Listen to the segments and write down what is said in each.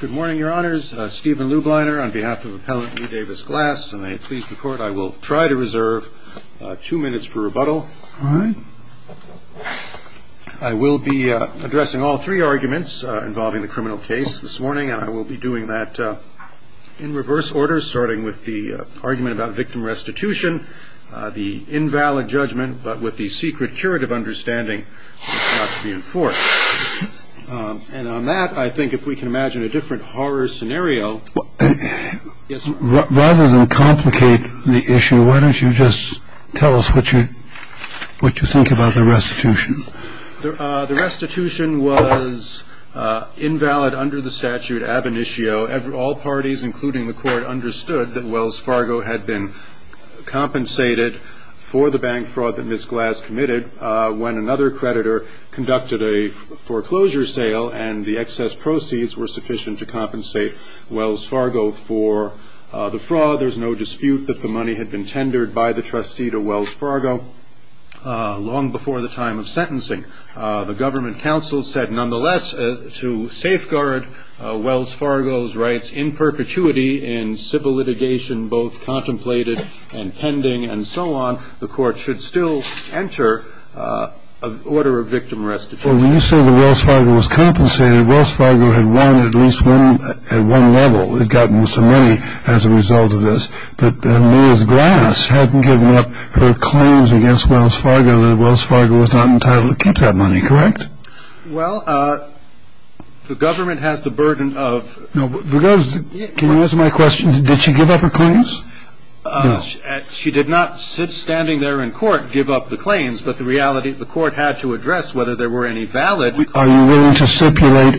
Good morning, Your Honors. Stephen Lubliner on behalf of Appellant Lee Davis Glass, and may it please the Court, I will try to reserve two minutes for rebuttal. I will be addressing all three arguments involving the criminal case this morning, and I will be doing that in reverse order, starting with the argument about victim restitution, the invalid judgment, but with the secret curative understanding not to be enforced. And on that, I think if we can imagine a different horror scenario. Rather than complicate the issue, why don't you just tell us what you think about the restitution? The restitution was invalid under the statute ab initio. All parties, including the Court, understood that Wells Fargo had been compensated for the bank fraud that Ms. Glass committed when another creditor conducted a foreclosure sale and the excess proceeds were sufficient to compensate Wells Fargo for the fraud. There's no dispute that the money had been tendered by the trustee to Wells Fargo long before the time of sentencing. The government counsel said, nonetheless, to safeguard Wells Fargo's rights in perpetuity in civil litigation, both contemplated and pending and so on, the Court should still enter an order of victim restitution. Well, when you say that Wells Fargo was compensated, Wells Fargo had won at least one level. It had gotten some money as a result of this. But Ms. Glass hadn't given up her claims against Wells Fargo that Wells Fargo was not entitled to keep that money, correct? Well, the government has the burden of... Can you answer my question? Did she give up her claims? She did not, standing there in court, give up the claims. But the reality, the Court had to address whether there were any valid... Are you willing to stipulate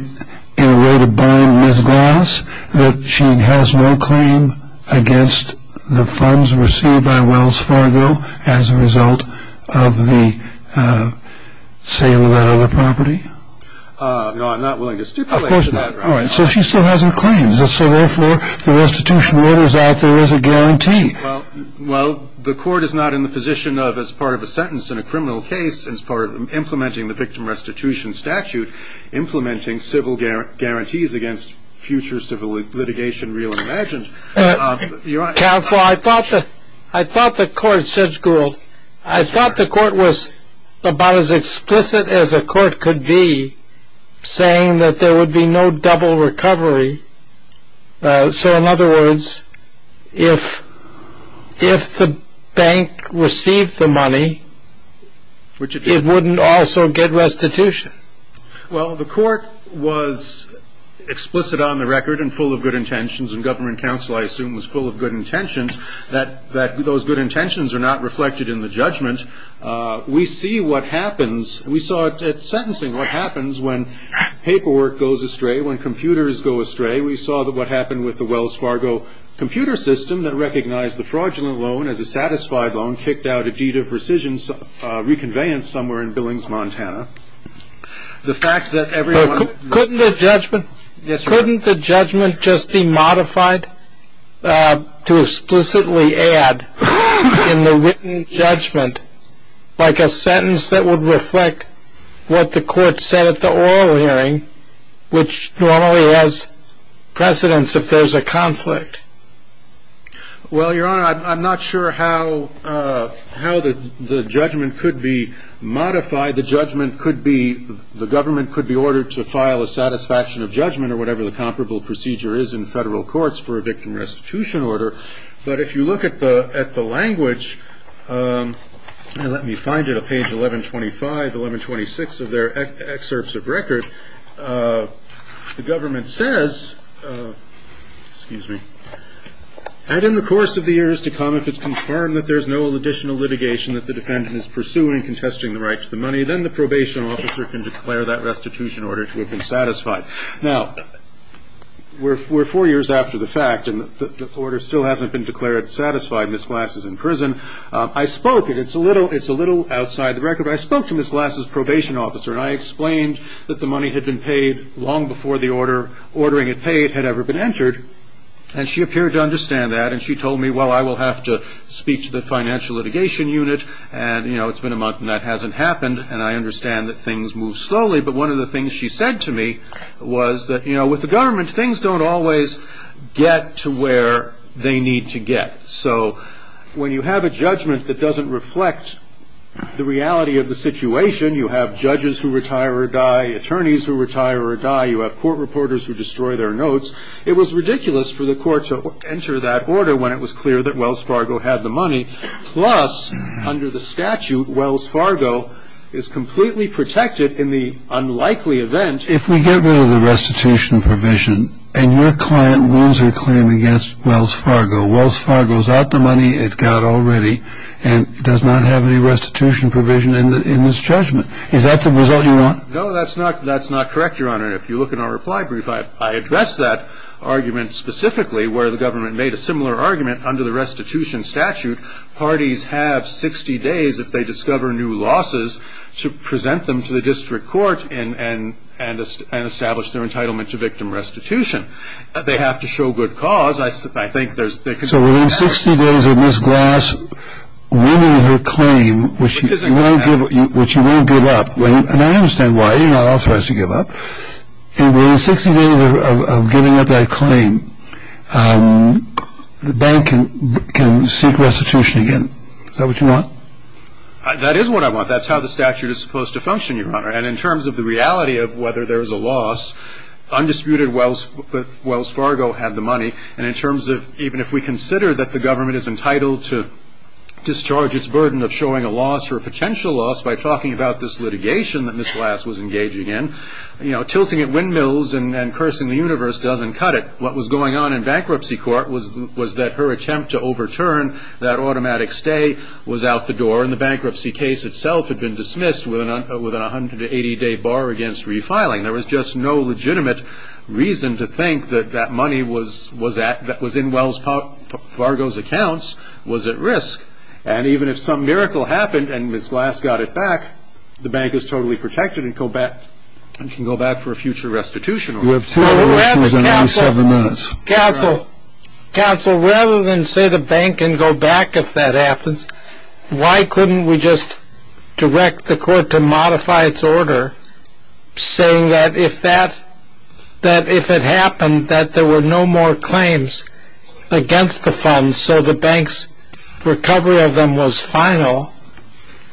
in a way to bind Ms. Glass that she has no claim against the funds received by Wells Fargo as a result of the sale of that other property? No, I'm not willing to stipulate that. Of course not. All right. So she still hasn't claimed. So therefore, the restitution order is out there as a guarantee. Well, the Court is not in the position of, as part of a sentence in a criminal case, as part of implementing the victim restitution statute, implementing civil guarantees against future civil litigation, real and imagined. Counsel, I thought the Court, Judge Gould, I thought the Court was about as explicit as a court could be, saying that there would be no double recovery. So, in other words, if the bank received the money, it wouldn't also get restitution. Well, the Court was explicit on the record and full of good intentions, and government counsel, I assume, was full of good intentions, that those good intentions are not reflected in the judgment. We see what happens. We saw it at sentencing, what happens when paperwork goes astray, when computers go astray. We saw what happened with the Wells Fargo computer system that recognized the fraudulent loan as a satisfied loan, kicked out a deed of rescission, reconveyance somewhere in Billings, Montana. The fact that everyone- Couldn't the judgment- Yes, Your Honor. Couldn't the judgment just be modified to explicitly add in the written judgment, like a sentence that would reflect what the Court said at the oral hearing, which normally has precedence if there's a conflict? Well, Your Honor, I'm not sure how the judgment could be modified. The judgment could be- The government could be ordered to file a satisfaction of judgment or whatever the comparable procedure is in federal courts for a victim restitution order. But if you look at the language, let me find it, on page 1125, 1126 of their excerpts of record, the government says, excuse me, and in the course of the years to come, if it's confirmed that there's no additional litigation that the defendant is pursuing, contesting the right to the money, then the probation officer can declare that restitution order to have been satisfied. Now, we're four years after the fact, and the order still hasn't been declared satisfied. Ms. Glass is in prison. I spoke, and it's a little outside the record, but I spoke to Ms. Glass's probation officer, and I explained that the money had been paid long before the order, ordering it paid, had ever been entered. And she appeared to understand that, and she told me, well, I will have to speak to the financial litigation unit, and, you know, it's been a month and that hasn't happened, and I understand that things move slowly. But one of the things she said to me was that, you know, with the government, things don't always get to where they need to get. So when you have a judgment that doesn't reflect the reality of the situation, you have judges who retire or die, attorneys who retire or die, you have court reporters who destroy their notes. It was ridiculous for the court to enter that order when it was clear that Wells Fargo had the money. Plus, under the statute, Wells Fargo is completely protected in the unlikely event. If we get rid of the restitution provision and your client wins her claim against Wells Fargo, Wells Fargo is out the money it got already and does not have any restitution provision in this judgment, is that the result you want? No, that's not correct, Your Honor. If you look in our reply brief, I address that argument specifically where the government made a similar argument under the restitution statute that parties have 60 days if they discover new losses to present them to the district court and establish their entitlement to victim restitution. They have to show good cause. So within 60 days of Ms. Glass winning her claim, which you won't give up, and I understand why, you're not authorized to give up, within 60 days of giving up that claim, the bank can seek restitution again. Is that what you want? That is what I want. That's how the statute is supposed to function, Your Honor. And in terms of the reality of whether there is a loss, undisputed Wells Fargo had the money. And in terms of even if we consider that the government is entitled to discharge its burden of showing a loss or a potential loss by talking about this litigation that Ms. Glass was engaging in, you know, tilting at windmills and cursing the universe doesn't cut it. What was going on in bankruptcy court was that her attempt to overturn that automatic stay was out the door, and the bankruptcy case itself had been dismissed with an 180-day bar against refiling. There was just no legitimate reason to think that that money that was in Wells Fargo's accounts was at risk. And even if some miracle happened and Ms. Glass got it back, the bank is totally protected and can go back for a future restitution order. You have 10 more minutes. Counsel, rather than say the bank can go back if that happens, why couldn't we just direct the court to modify its order, saying that if it happened that there were no more claims against the funds and so the bank's recovery of them was final,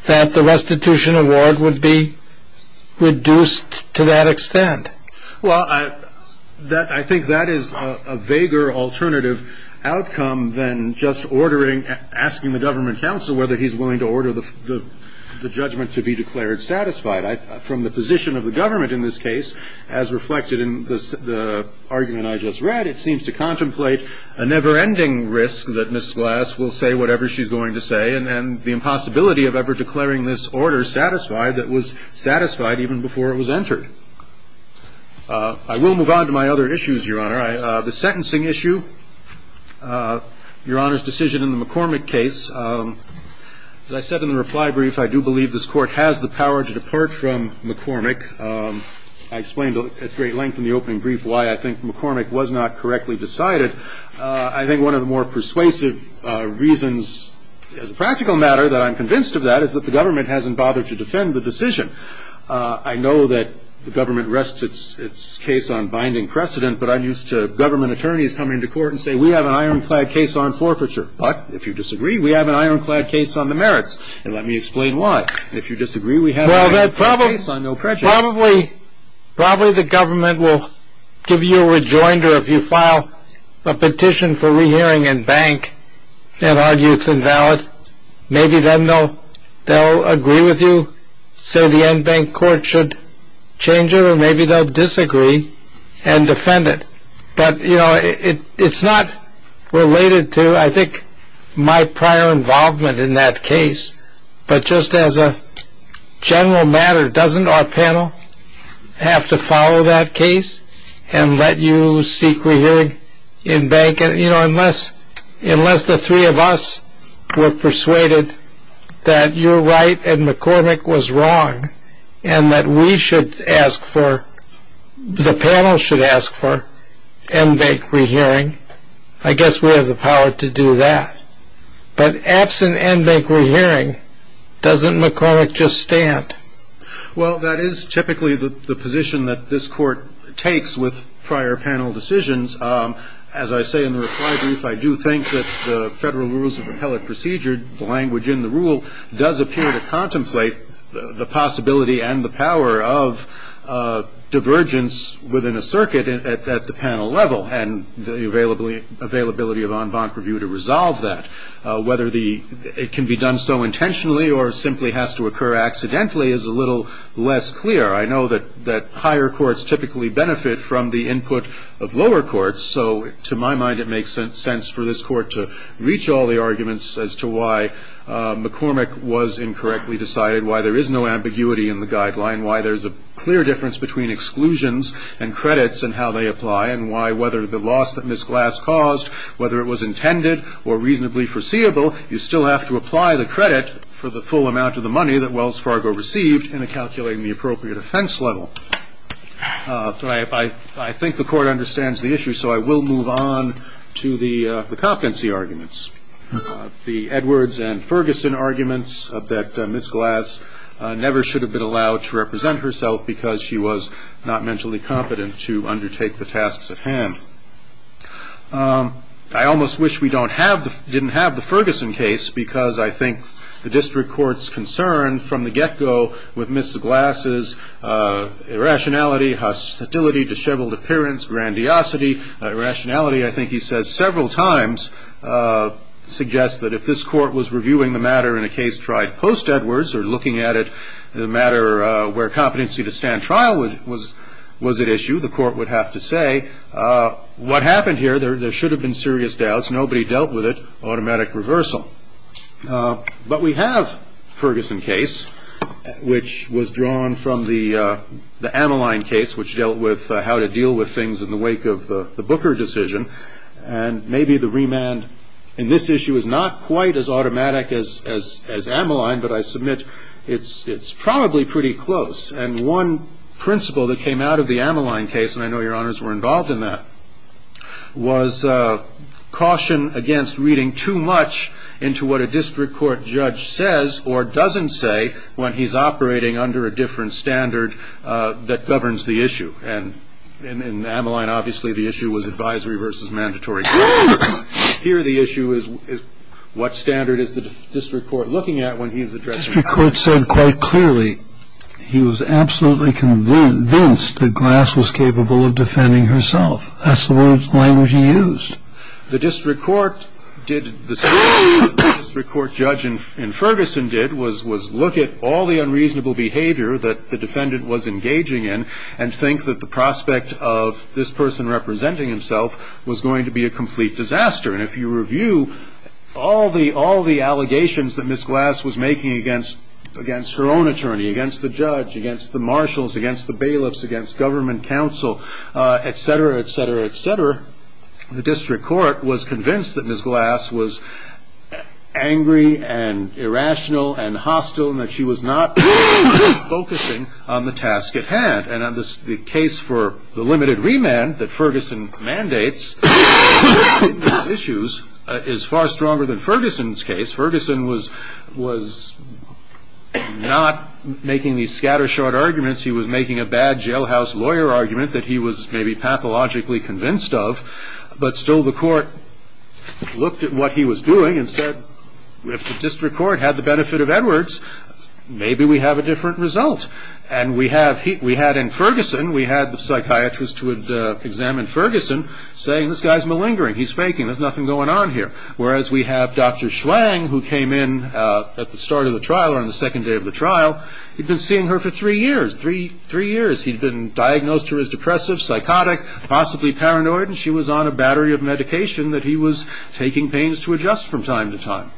that the restitution award would be reduced to that extent? Well, I think that is a vaguer alternative outcome than just ordering, asking the government counsel whether he's willing to order the judgment to be declared satisfied. From the position of the government in this case, as reflected in the argument I just read, it seems to contemplate a never-ending risk that Ms. Glass will say whatever she's going to say and the impossibility of ever declaring this order satisfied that was satisfied even before it was entered. I will move on to my other issues, Your Honor. The sentencing issue, Your Honor's decision in the McCormick case. As I said in the reply brief, I do believe this Court has the power to depart from McCormick. I explained at great length in the opening brief why I think McCormick was not correctly decided. I think one of the more persuasive reasons, as a practical matter, that I'm convinced of that is that the government hasn't bothered to defend the decision. I know that the government rests its case on binding precedent, but I'm used to government attorneys coming to court and saying, we have an ironclad case on forfeiture. But if you disagree, we have an ironclad case on the merits, and let me explain why. If you disagree, we have an ironclad case on no prejudice. Probably the government will give you a rejoinder if you file a petition for rehearing in bank and argue it's invalid. Maybe then they'll agree with you, say the endbank court should change it, or maybe they'll disagree and defend it. But it's not related to, I think, my prior involvement in that case. But just as a general matter, doesn't our panel have to follow that case and let you seek rehearing in bank? Unless the three of us were persuaded that you're right and McCormick was wrong and that we should ask for, the panel should ask for, endbank rehearing, I guess we have the power to do that. But absent endbank rehearing, doesn't McCormick just stand? Well, that is typically the position that this Court takes with prior panel decisions. As I say in the reply brief, I do think that the Federal Rules of Appellate Procedure, the language in the rule, does appear to contemplate the possibility and the power of divergence within a circuit at the panel level and the availability of enbank review to resolve that. Whether it can be done so intentionally or simply has to occur accidentally is a little less clear. I know that higher courts typically benefit from the input of lower courts, so to my mind it makes sense for this Court to reach all the arguments as to why McCormick was incorrectly decided, why there is no ambiguity in the guideline, why there's a clear difference between exclusions and credits and how they apply, and why whether the loss that Ms. Glass caused, whether it was intended or reasonably foreseeable, you still have to apply the credit for the full amount of the money that Wells Fargo received in calculating the appropriate offense level. I think the Court understands the issue, so I will move on to the Copkinsey arguments. The Edwards and Ferguson arguments that Ms. Glass never should have been allowed to represent herself because she was not mentally competent to undertake the tasks at hand. I almost wish we didn't have the Ferguson case, because I think the district court's concern from the get-go with Ms. Glass's irrationality, hostility, disheveled appearance, grandiosity, irrationality, I think he says several times, suggests that if this Court was reviewing the matter in a case tried post-Edwards or looking at it in a matter where competency to stand trial was at issue, the Court would have to say, what happened here? There should have been serious doubts. Nobody dealt with it. Automatic reversal. But we have Ferguson case, which was drawn from the Ammaline case, which dealt with how to deal with things in the wake of the Booker decision, and maybe the remand in this issue is not quite as automatic as Ammaline, but I submit it's probably pretty close. And one principle that came out of the Ammaline case, and I know Your Honors were involved in that, was caution against reading too much into what a district court judge says or doesn't say when he's operating under a different standard that governs the issue. And in Ammaline, obviously, the issue was advisory versus mandatory. Here, the issue is, what standard is the district court looking at when he's addressing the issue? The district court said quite clearly, he was absolutely convinced that Glass was capable of defending herself. That's the language he used. The district court did the same thing that the district court judge in Ferguson did, was look at all the unreasonable behavior that the defendant was engaging in and think that the prospect of this person representing himself was going to be a complete disaster. And if you review all the allegations that Ms. Glass was making against her own attorney, against the judge, against the marshals, against the bailiffs, against government counsel, etc., etc., etc., the district court was convinced that Ms. Glass was angry and irrational and hostile and that she was not focusing on the task at hand. And the case for the limited remand that Ferguson mandates on these issues is far stronger than Ferguson's case. Ferguson was not making these scattershot arguments. He was making a bad jailhouse lawyer argument that he was maybe pathologically convinced of, but still the court looked at what he was doing and said, if the district court had the benefit of Edwards, maybe we have a different result. And we had in Ferguson, we had the psychiatrist who had examined Ferguson saying, this guy's malingering, he's faking, there's nothing going on here. Whereas we have Dr. Schwang, who came in at the start of the trial or on the second day of the trial, he'd been seeing her for three years, three years. He'd been diagnosed to her as depressive, psychotic, possibly paranoid, and she was on a battery of medication that he was taking pains to adjust from time to time.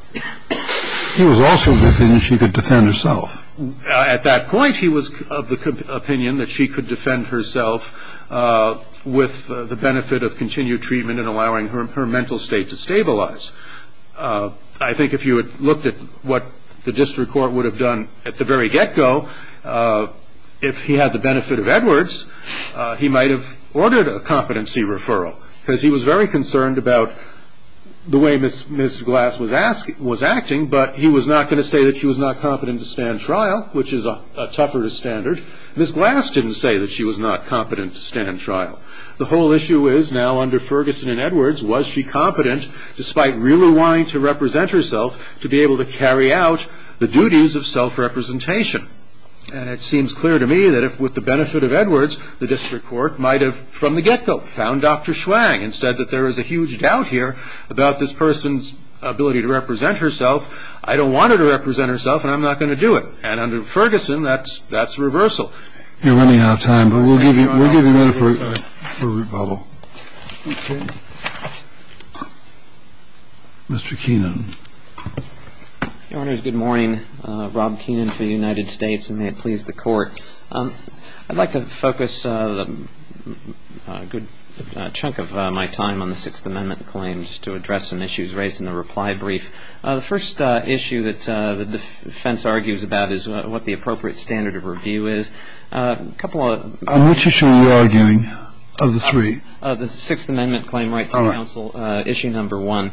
He was also convinced she could defend herself. At that point, he was of the opinion that she could defend herself with the benefit of continued treatment and allowing her mental state to stabilize. I think if you had looked at what the district court would have done at the very get-go, if he had the benefit of Edwards, he might have ordered a competency referral, because he was very concerned about the way Ms. Glass was acting, but he was not going to say that she was not competent to stand trial, which is a tougher standard. Ms. Glass didn't say that she was not competent to stand trial. The whole issue is now under Ferguson and Edwards, was she competent, despite really wanting to represent herself, to be able to carry out the duties of self-representation? And it seems clear to me that if, with the benefit of Edwards, the district court might have, from the get-go, found Dr. Schwang and said that there is a huge doubt here about this person's ability to represent herself, I don't want her to represent herself and I'm not going to do it. And under Ferguson, that's reversal. You're running out of time, but we'll give you a minute for rebuttal. Mr. Keenan. Your Honors, good morning. Rob Keenan for the United States, and may it please the Court. I'd like to focus a good chunk of my time on the Sixth Amendment claims to address some issues raised in the reply brief. The first issue that the defense argues about is what the appropriate standard of review is. On which issue are you arguing, of the three? The Sixth Amendment claim right to counsel, issue number one.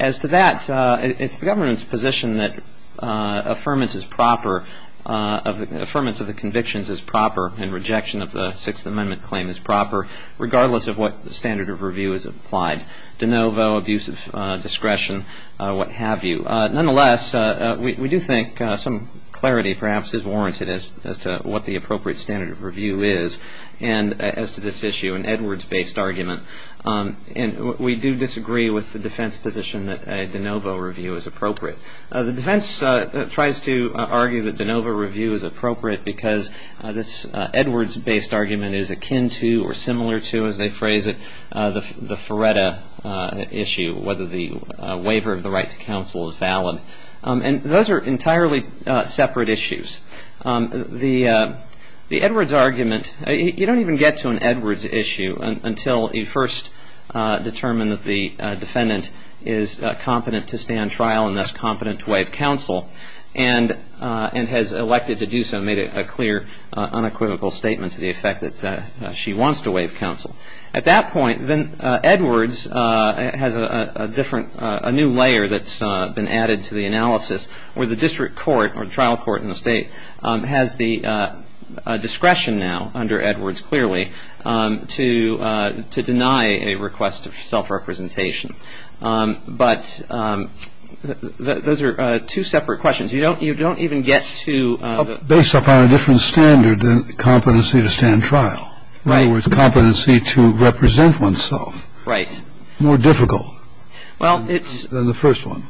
As to that, it's the government's position that affirmance is proper, affirmance of the convictions is proper, and rejection of the Sixth Amendment claim is proper, regardless of what standard of review is applied. De novo, abuse of discretion, what have you. Nonetheless, we do think some clarity, perhaps, is warranted as to what the appropriate standard of review is. As to this issue, an Edwards-based argument, we do disagree with the defense position that a de novo review is appropriate. The defense tries to argue that de novo review is appropriate because this Edwards-based argument is akin to, or similar to, as they phrase it, the Feretta issue, whether the waiver of the right to counsel is valid. Those are entirely separate issues. The Edwards argument, you don't even get to an Edwards issue until you first determine that the defendant is competent to stand trial and thus competent to waive counsel and has elected to do so and made a clear, unequivocal statement to the effect that she wants to waive counsel. At that point, Edwards has a new layer that's been added to the analysis where the district court or the trial court in the State has the discretion now, under Edwards clearly, to deny a request of self-representation. But those are two separate questions. You don't even get to the ---- Based upon a different standard than competency to stand trial. Right. In other words, competency to represent oneself. Right. More difficult than the first one.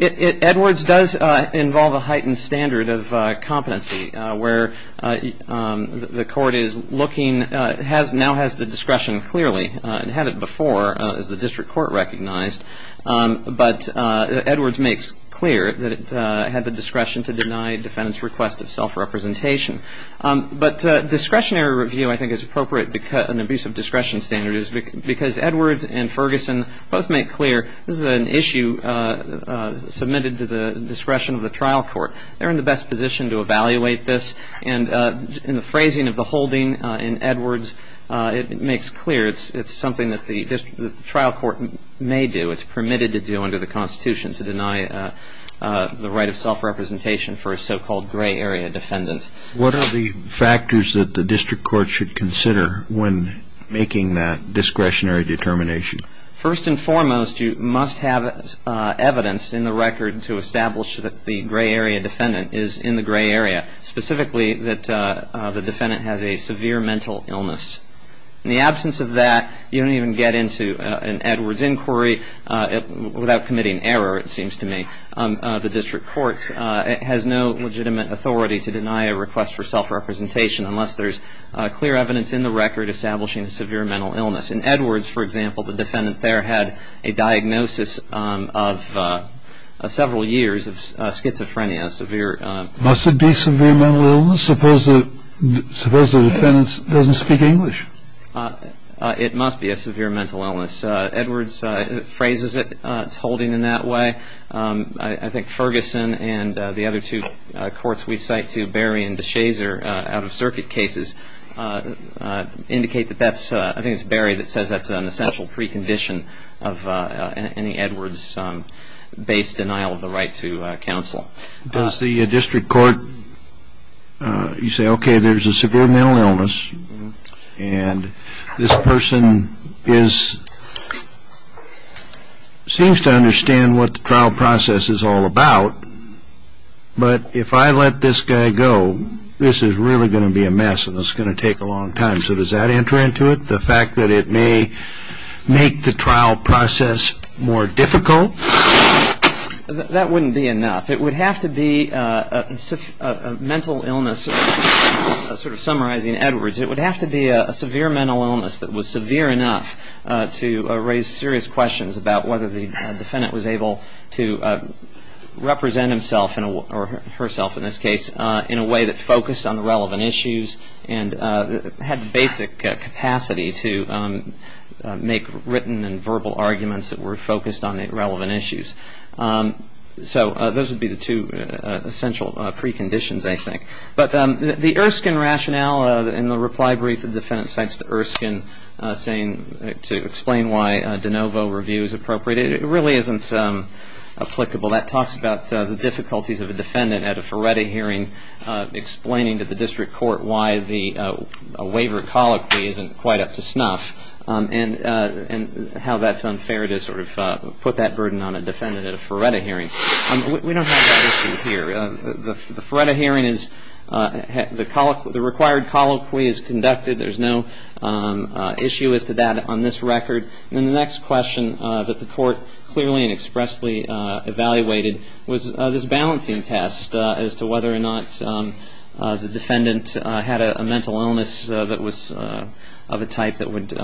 Edwards does involve a heightened standard of competency where the court is looking, now has the discretion clearly. It had it before, as the district court recognized. But Edwards makes clear that it had the discretion to deny a defendant's request of self-representation. But discretionary review, I think, is appropriate, an abuse of discretion standard, because Edwards and Ferguson both make clear this is an issue submitted to the discretion of the trial court. They're in the best position to evaluate this. And in the phrasing of the holding in Edwards, it makes clear it's something that the trial court may do, it's permitted to do under the Constitution, to deny the right of self-representation for a so-called gray area defendant. What are the factors that the district court should consider when making that discretionary determination? First and foremost, you must have evidence in the record to establish that the gray area defendant is in the gray area, specifically that the defendant has a severe mental illness. In the absence of that, you don't even get into an Edwards inquiry without committing error, it seems to me. The district court has no legitimate authority to deny a request for self-representation unless there's clear evidence in the record establishing a severe mental illness. In Edwards, for example, the defendant there had a diagnosis of several years of schizophrenia, severe. Must it be severe mental illness? Suppose the defendant doesn't speak English. It must be a severe mental illness. Edwards phrases it, it's holding in that way. I think Ferguson and the other two courts we cite to Barry and DeShazer out-of-circuit cases indicate that that's, I think it's Barry that says that's an essential precondition of any Edwards-based denial of the right to counsel. Does the district court, you say, okay, there's a severe mental illness and this person seems to understand what the trial process is all about, but if I let this guy go, this is really going to be a mess and it's going to take a long time. So does that enter into it, the fact that it may make the trial process more difficult? That wouldn't be enough. It would have to be a mental illness, sort of summarizing Edwards, it would have to be a severe mental illness that was severe enough to raise serious questions about whether the defendant was able to represent himself or herself in this case in a way that focused on the relevant issues and had the basic capacity to make written and verbal arguments that were focused on the relevant issues. So those would be the two essential preconditions, I think. But the Erskine rationale in the reply brief the defendant cites to Erskine saying to explain why de novo review is appropriate, it really isn't applicable. That talks about the difficulties of a defendant at a Ferretti hearing explaining to the district court why the waiver of colloquy isn't quite up to snuff and how that's unfair to sort of put that burden on a defendant at a Ferretti hearing. We don't have that issue here. The Ferretti hearing is the required colloquy is conducted. There's no issue as to that on this record. And the next question that the court clearly and expressly evaluated was this balancing test as to whether or not the defendant had a mental illness that was of a type that would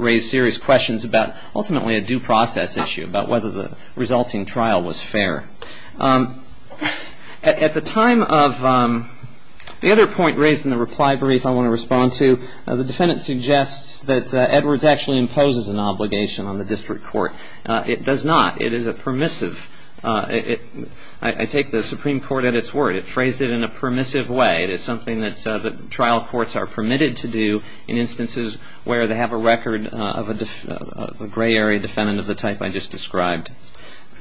raise serious questions about ultimately a due process issue, about whether the resulting trial was fair. At the time of the other point raised in the reply brief I want to respond to, the defendant suggests that Edwards actually imposes an obligation on the district court. It does not. It is a permissive. I take the Supreme Court at its word. It phrased it in a permissive way. It is something that trial courts are permitted to do in instances where they have a record of a gray area defendant of the type I just described.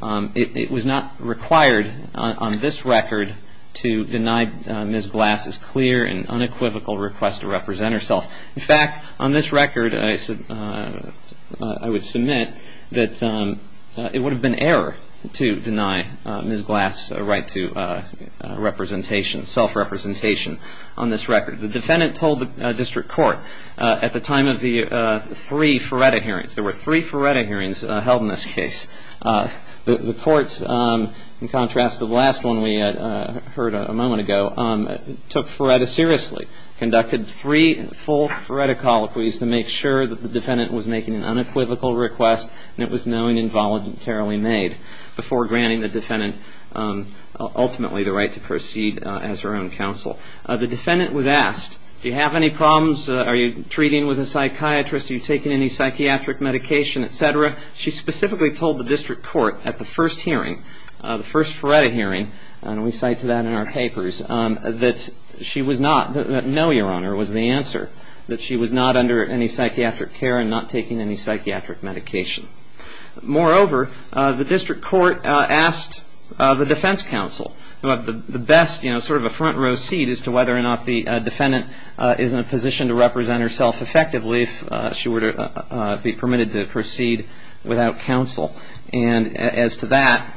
It was not required on this record to deny Ms. Glass's clear and unequivocal request to represent herself. In fact, on this record I would submit that it would have been error to deny Ms. Glass's right to representation, self-representation on this record. The defendant told the district court at the time of the three Ferretti hearings. There were three Ferretti hearings held in this case. The courts, in contrast to the last one we heard a moment ago, took Ferretti seriously, conducted three full Ferretti colloquies to make sure that the defendant was making an unequivocal request and it was known involuntarily made before granting the defendant ultimately the right to proceed as her own counsel. The defendant was asked, do you have any problems? Are you treating with a psychiatrist? Are you taking any psychiatric medication, et cetera? She specifically told the district court at the first hearing, the first Ferretti hearing, and we cite to that in our papers, that she was not, that no, Your Honor, was the answer, that she was not under any psychiatric care and not taking any psychiatric medication. Moreover, the district court asked the defense counsel to have the best, you know, sort of a front row seat as to whether or not the defendant is in a position to represent herself effectively if she were to be permitted to proceed without counsel. And as to that,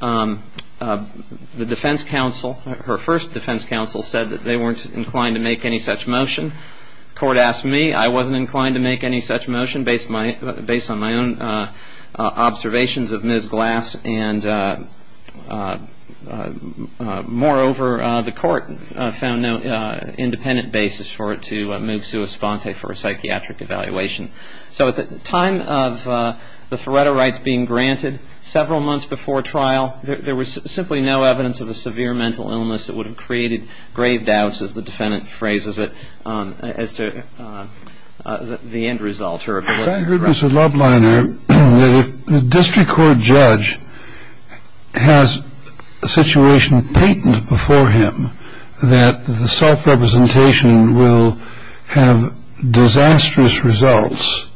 the defense counsel, her first defense counsel, said that they weren't inclined to make any such motion. The court asked me. I wasn't inclined to make any such motion based on my own observations of Ms. Glass. And moreover, the court found no independent basis for it to move Sua Sponte for a psychiatric evaluation. So at the time of the Ferretti rights being granted, several months before trial, there was simply no evidence of a severe mental illness that would have created grave doubts, as the defendant phrases it, as to the end result. Now, if I could, Mr. Lubliner, if the district court judge has a situation patent before him that the self-representation will have disastrous results,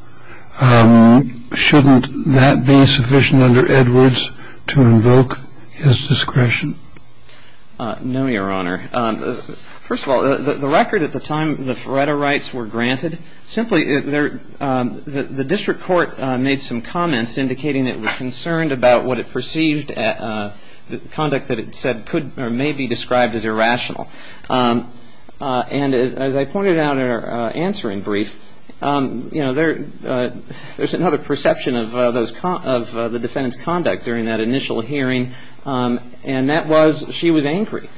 shouldn't that be sufficient under Edwards to invoke his discretion? No, Your Honor. First of all, the record at the time the Ferretti rights were granted, simply the district court made some comments indicating it was concerned about what it perceived the conduct that it said could or may be described as irrational. And as I pointed out in our answering brief, there's another perception of the defendant's conduct during that initial hearing, and that was she was angry.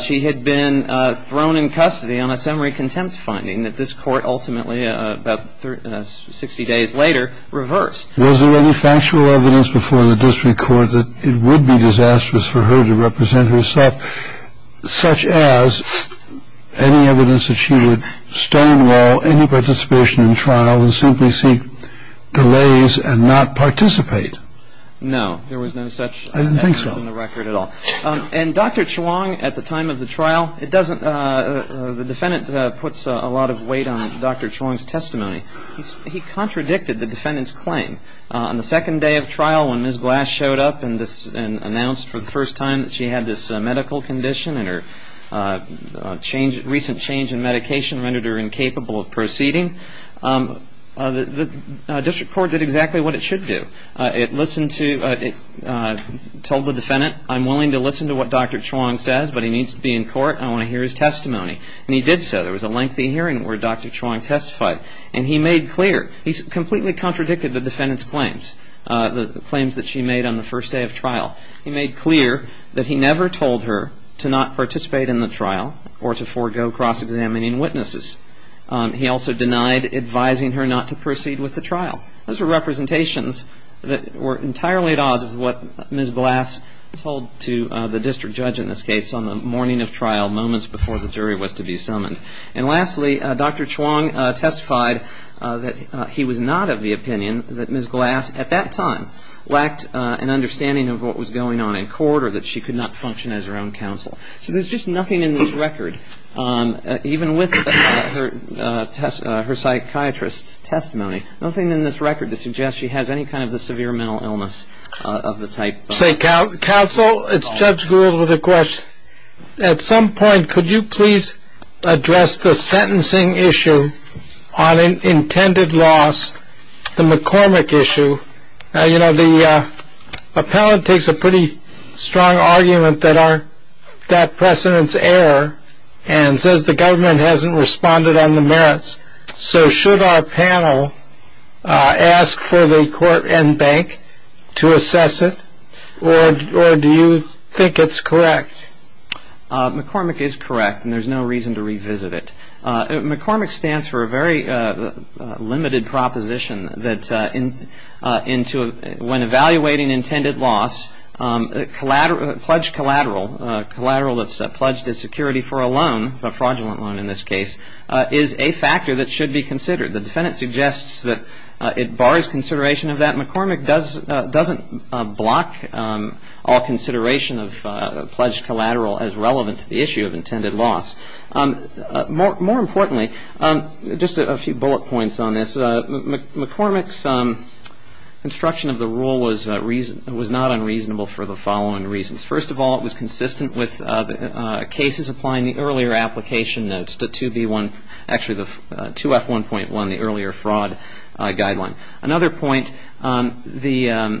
She had been thrown in custody on a summary contempt finding that this court ultimately, about 60 days later, reversed. Was there any factual evidence before the district court that it would be disastrous for her to represent herself, such as any evidence that she would stonewall any participation in trial and simply seek delays and not participate? I didn't think so. And Dr. Chuang, at the time of the trial, the defendant puts a lot of weight on Dr. Chuang's testimony. He contradicted the defendant's claim. On the second day of trial when Ms. Glass showed up and announced for the first time that she had this medical condition and her recent change in medication rendered her incapable of proceeding, the district court did exactly what it should do. It told the defendant, I'm willing to listen to what Dr. Chuang says but he needs to be in court and I want to hear his testimony. And he did so. There was a lengthy hearing where Dr. Chuang testified. And he made clear, he completely contradicted the defendant's claims, the claims that she made on the first day of trial. He made clear that he never told her to not participate in the trial or to forego cross-examining witnesses. He also denied advising her not to proceed with the trial. Those are representations that were entirely at odds with what Ms. Glass told to the district judge in this case on the morning of trial moments before the jury was to be summoned. And lastly, Dr. Chuang testified that he was not of the opinion that Ms. Glass at that time lacked an understanding of what was going on in court or that she could not function as her own counsel. So there's just nothing in this record, even with her psychiatrist's testimony, nothing in this record to suggest she has any kind of a severe mental illness of the type. Counsel, it's Judge Gould with a question. At some point, could you please address the sentencing issue on intended loss, the McCormick issue? You know, the appellate takes a pretty strong argument that that precedent's error and says the government hasn't responded on the merits. So should our panel ask for the court and bank to assess it, or do you think it's correct? McCormick is correct, and there's no reason to revisit it. McCormick stands for a very limited proposition that when evaluating intended loss, a pledged collateral, a collateral that's pledged as security for a loan, a fraudulent loan in this case, is a factor that should be considered. The defendant suggests that it bars consideration of that. McCormick doesn't block all consideration of a pledged collateral as relevant to the issue of intended loss. More importantly, just a few bullet points on this, McCormick's construction of the rule was not unreasonable for the following reasons. First of all, it was consistent with cases applying the earlier application notes, the 2B1, actually the 2F1.1, the earlier fraud guideline. Another point, as the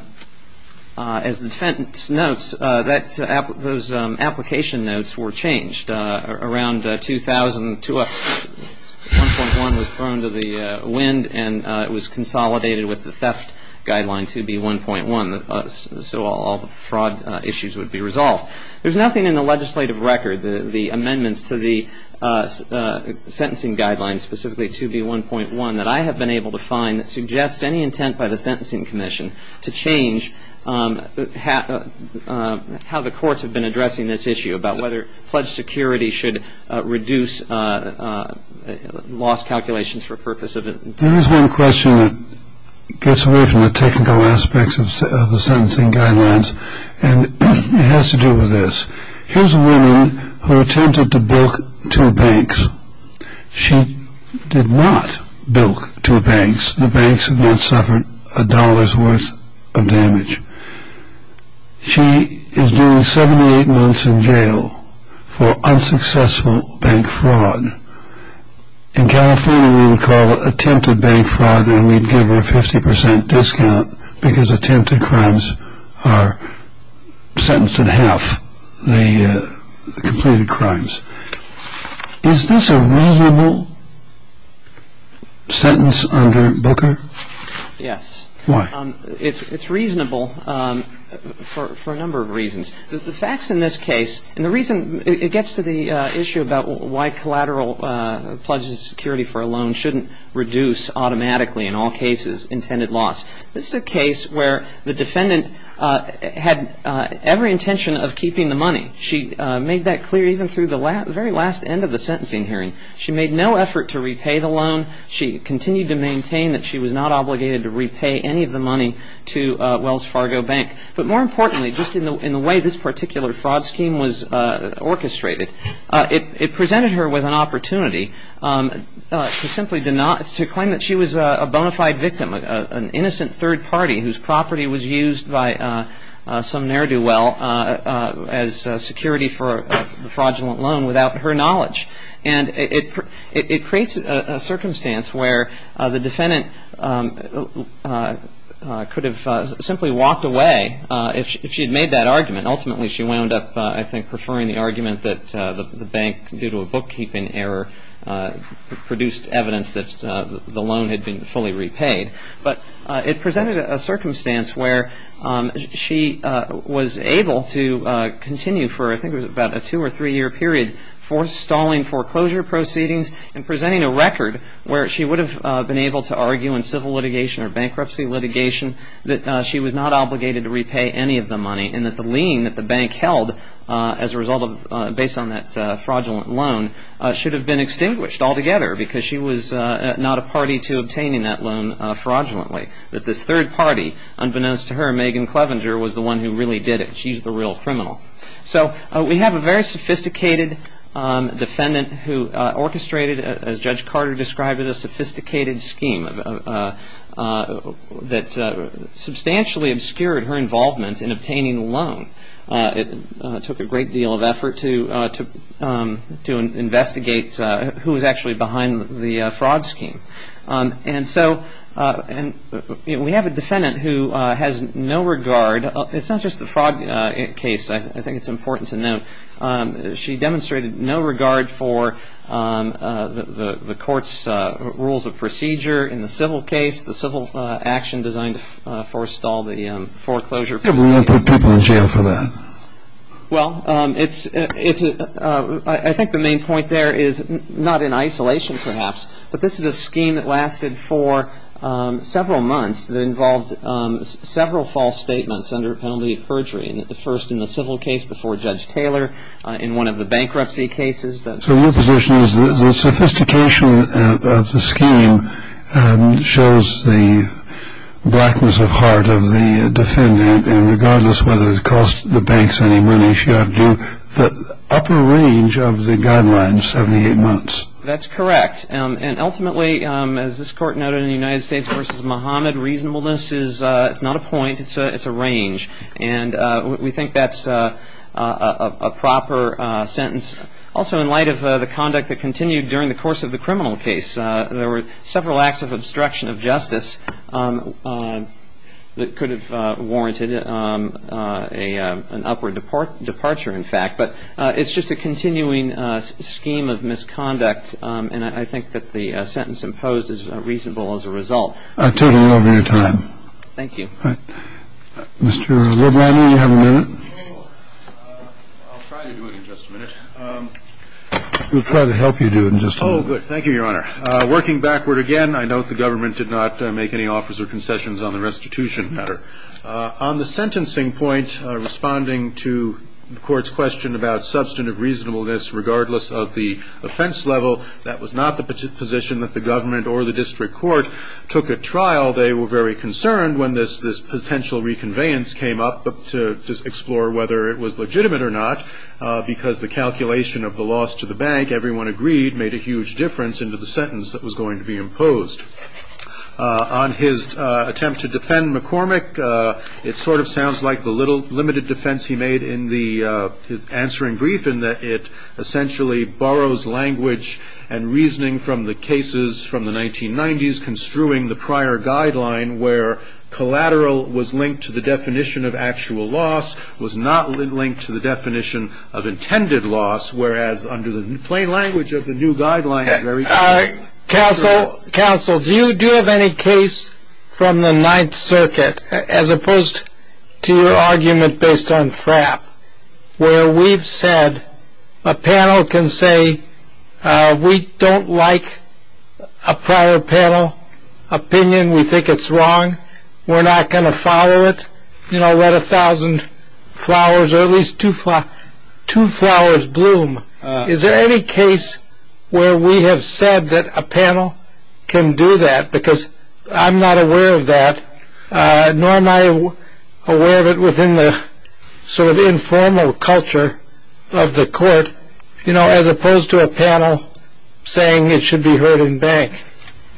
defendant notes, those application notes were changed. Around 2000, 2F1.1 was thrown to the wind, and it was consolidated with the theft guideline, 2B1.1. So all the fraud issues would be resolved. There's nothing in the legislative record, the amendments to the sentencing guidelines, specifically 2B1.1, that I have been able to find that suggests any intent by the Sentencing Commission to change how the courts have been addressing this issue, about whether pledged security should reduce loss calculations for the purpose of it. There is one question that gets away from the technical aspects of the sentencing guidelines, and it has to do with this. Here's a woman who attempted to bilk two banks. She did not bilk two banks. The banks had not suffered a dollar's worth of damage. She is doing 78 months in jail for unsuccessful bank fraud. In California, we would call it attempted bank fraud, and we'd give her a 50 percent discount because attempted crimes are sentenced in half, the completed crimes. Is this a reasonable sentence under Booker? Yes. Why? It's reasonable for a number of reasons. The facts in this case, and the reason it gets to the issue about why collateral pledged security for a loan shouldn't reduce automatically in all cases intended loss, this is a case where the defendant had every intention of keeping the money. She made that clear even through the very last end of the sentencing hearing. She made no effort to repay the loan. She continued to maintain that she was not obligated to repay any of the money to Wells Fargo Bank. But more importantly, just in the way this particular fraud scheme was orchestrated, it presented her with an opportunity to simply deny, to claim that she was a bona fide victim, an innocent third party whose property was used by some ne'er-do-well as security for a fraudulent loan without her knowledge. And it creates a circumstance where the defendant could have simply walked away if she had made that argument. Ultimately, she wound up, I think, preferring the argument that the bank, due to a bookkeeping error, produced evidence that the loan had been fully repaid. But it presented a circumstance where she was able to continue for, I think, about a two- or three-year period, stalling foreclosure proceedings and presenting a record where she would have been able to argue in civil litigation or bankruptcy litigation that she was not obligated to repay any of the money and that the lien that the bank held as a result of, based on that fraudulent loan, should have been extinguished altogether because she was not a party to obtaining that loan fraudulently, that this third party, unbeknownst to her, Megan Clevenger, was the one who really did it. She's the real criminal. So we have a very sophisticated defendant who orchestrated, as Judge Carter described it, a sophisticated scheme that substantially obscured her involvement in obtaining the loan. It took a great deal of effort to investigate who was actually behind the fraud scheme. And so we have a defendant who has no regard. It's not just the fraud case I think it's important to note. She demonstrated no regard for the court's rules of procedure in the civil case, the civil action designed to forestall the foreclosure proceedings. Why put people in jail for that? Well, I think the main point there is not in isolation, perhaps, but this is a scheme that lasted for several months that involved several false statements under penalty of perjury, the first in the civil case before Judge Taylor, in one of the bankruptcy cases. So your position is the sophistication of the scheme shows the blackness of heart of the defendant, and regardless of whether it cost the banks any money, she had to do the upper range of the guidelines, 78 months. That's correct. And ultimately, as this Court noted in the United States v. Muhammad, reasonableness is not a point. It's a range. And we think that's a proper sentence. Also, in light of the conduct that continued during the course of the criminal case, there were several acts of obstruction of justice that could have warranted an upward departure, in fact. But it's just a continuing scheme of misconduct. And I think that the sentence imposed is reasonable as a result. I've taken a little bit of your time. Thank you. All right. Mr. LeBlanc, do you have a minute? I'll try to do it in just a minute. We'll try to help you do it in just a minute. Oh, good. Thank you, Your Honor. Working backward again, I note the government did not make any offers or concessions on the restitution matter. On the sentencing point, responding to the Court's question about substantive reasonableness, regardless of the offense level, that was not the position that the government or the district court took at trial. They were very concerned when this potential reconveyance came up to explore whether it was legitimate or not, because the calculation of the loss to the bank, everyone agreed, made a huge difference into the sentence that was going to be imposed. On his attempt to defend McCormick, it sort of sounds like the limited defense he made in his answering brief, in that it essentially borrows language and reasoning from the cases from the 1990s, construing the prior guideline where collateral was linked to the definition of actual loss, was not linked to the definition of intended loss, whereas under the plain language of the new guideline. Counsel, do you have any case from the Ninth Circuit, as opposed to your argument based on FRAP, where we've said a panel can say we don't like a prior panel opinion, we think it's wrong, we're not going to follow it, you know, let a thousand flowers or at least two flowers bloom. Is there any case where we have said that a panel can do that? Because I'm not aware of that, nor am I aware of it within the sort of informal culture of the court, you know, as opposed to a panel saying it should be heard in bank.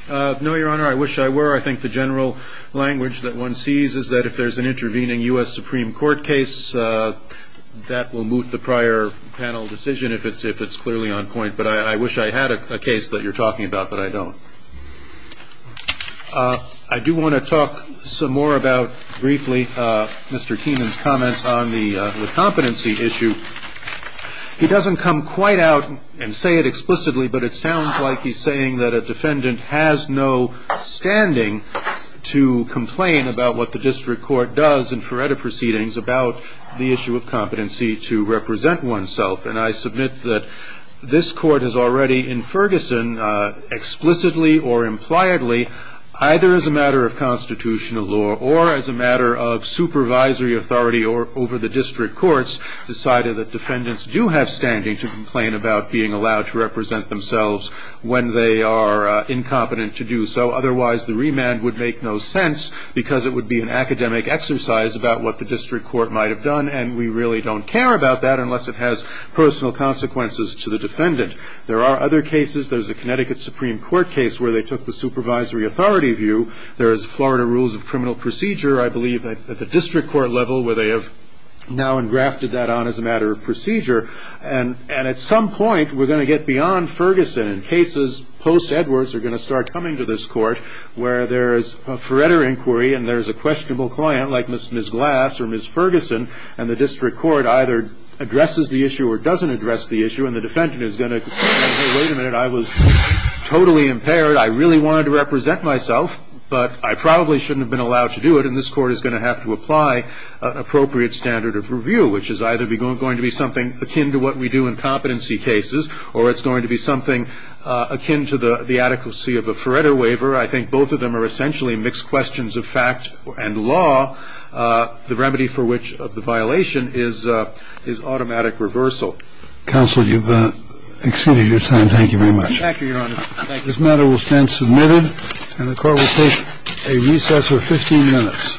No, Your Honor, I wish I were. I think the general language that one sees is that if there's an intervening U.S. Supreme Court case, that will moot the prior panel decision if it's clearly on point, but I wish I had a case that you're talking about that I don't. I do want to talk some more about briefly Mr. Keenan's comments on the competency issue. He doesn't come quite out and say it explicitly, but it sounds like he's saying that a defendant has no standing to complain about what the district court does about the issue of competency to represent oneself, and I submit that this Court has already in Ferguson explicitly or impliedly, either as a matter of constitutional law or as a matter of supervisory authority over the district courts, decided that defendants do have standing to complain about being allowed to represent themselves when they are incompetent to do so. Otherwise, the remand would make no sense because it would be an academic exercise about what the district court might have done, and we really don't care about that unless it has personal consequences to the defendant. There are other cases. There's a Connecticut Supreme Court case where they took the supervisory authority view. There is Florida Rules of Criminal Procedure, I believe, at the district court level, where they have now engrafted that on as a matter of procedure, and at some point, we're going to get beyond Ferguson. And in cases post-Edwards, they're going to start coming to this Court where there is a forever inquiry and there is a questionable client like Ms. Glass or Ms. Ferguson, and the district court either addresses the issue or doesn't address the issue, and the defendant is going to say, wait a minute, I was totally impaired. I really wanted to represent myself, but I probably shouldn't have been allowed to do it, and this Court is going to have to apply an appropriate standard of review, which is either going to be something akin to what we do in competency cases or it's going to be something akin to the adequacy of a Feretta waiver. I think both of them are essentially mixed questions of fact and law, the remedy for which of the violation is automatic reversal. Counsel, you've exceeded your time. Thank you very much. Thank you, Your Honor. This matter will stand submitted, and the Court will take a recess of 15 minutes.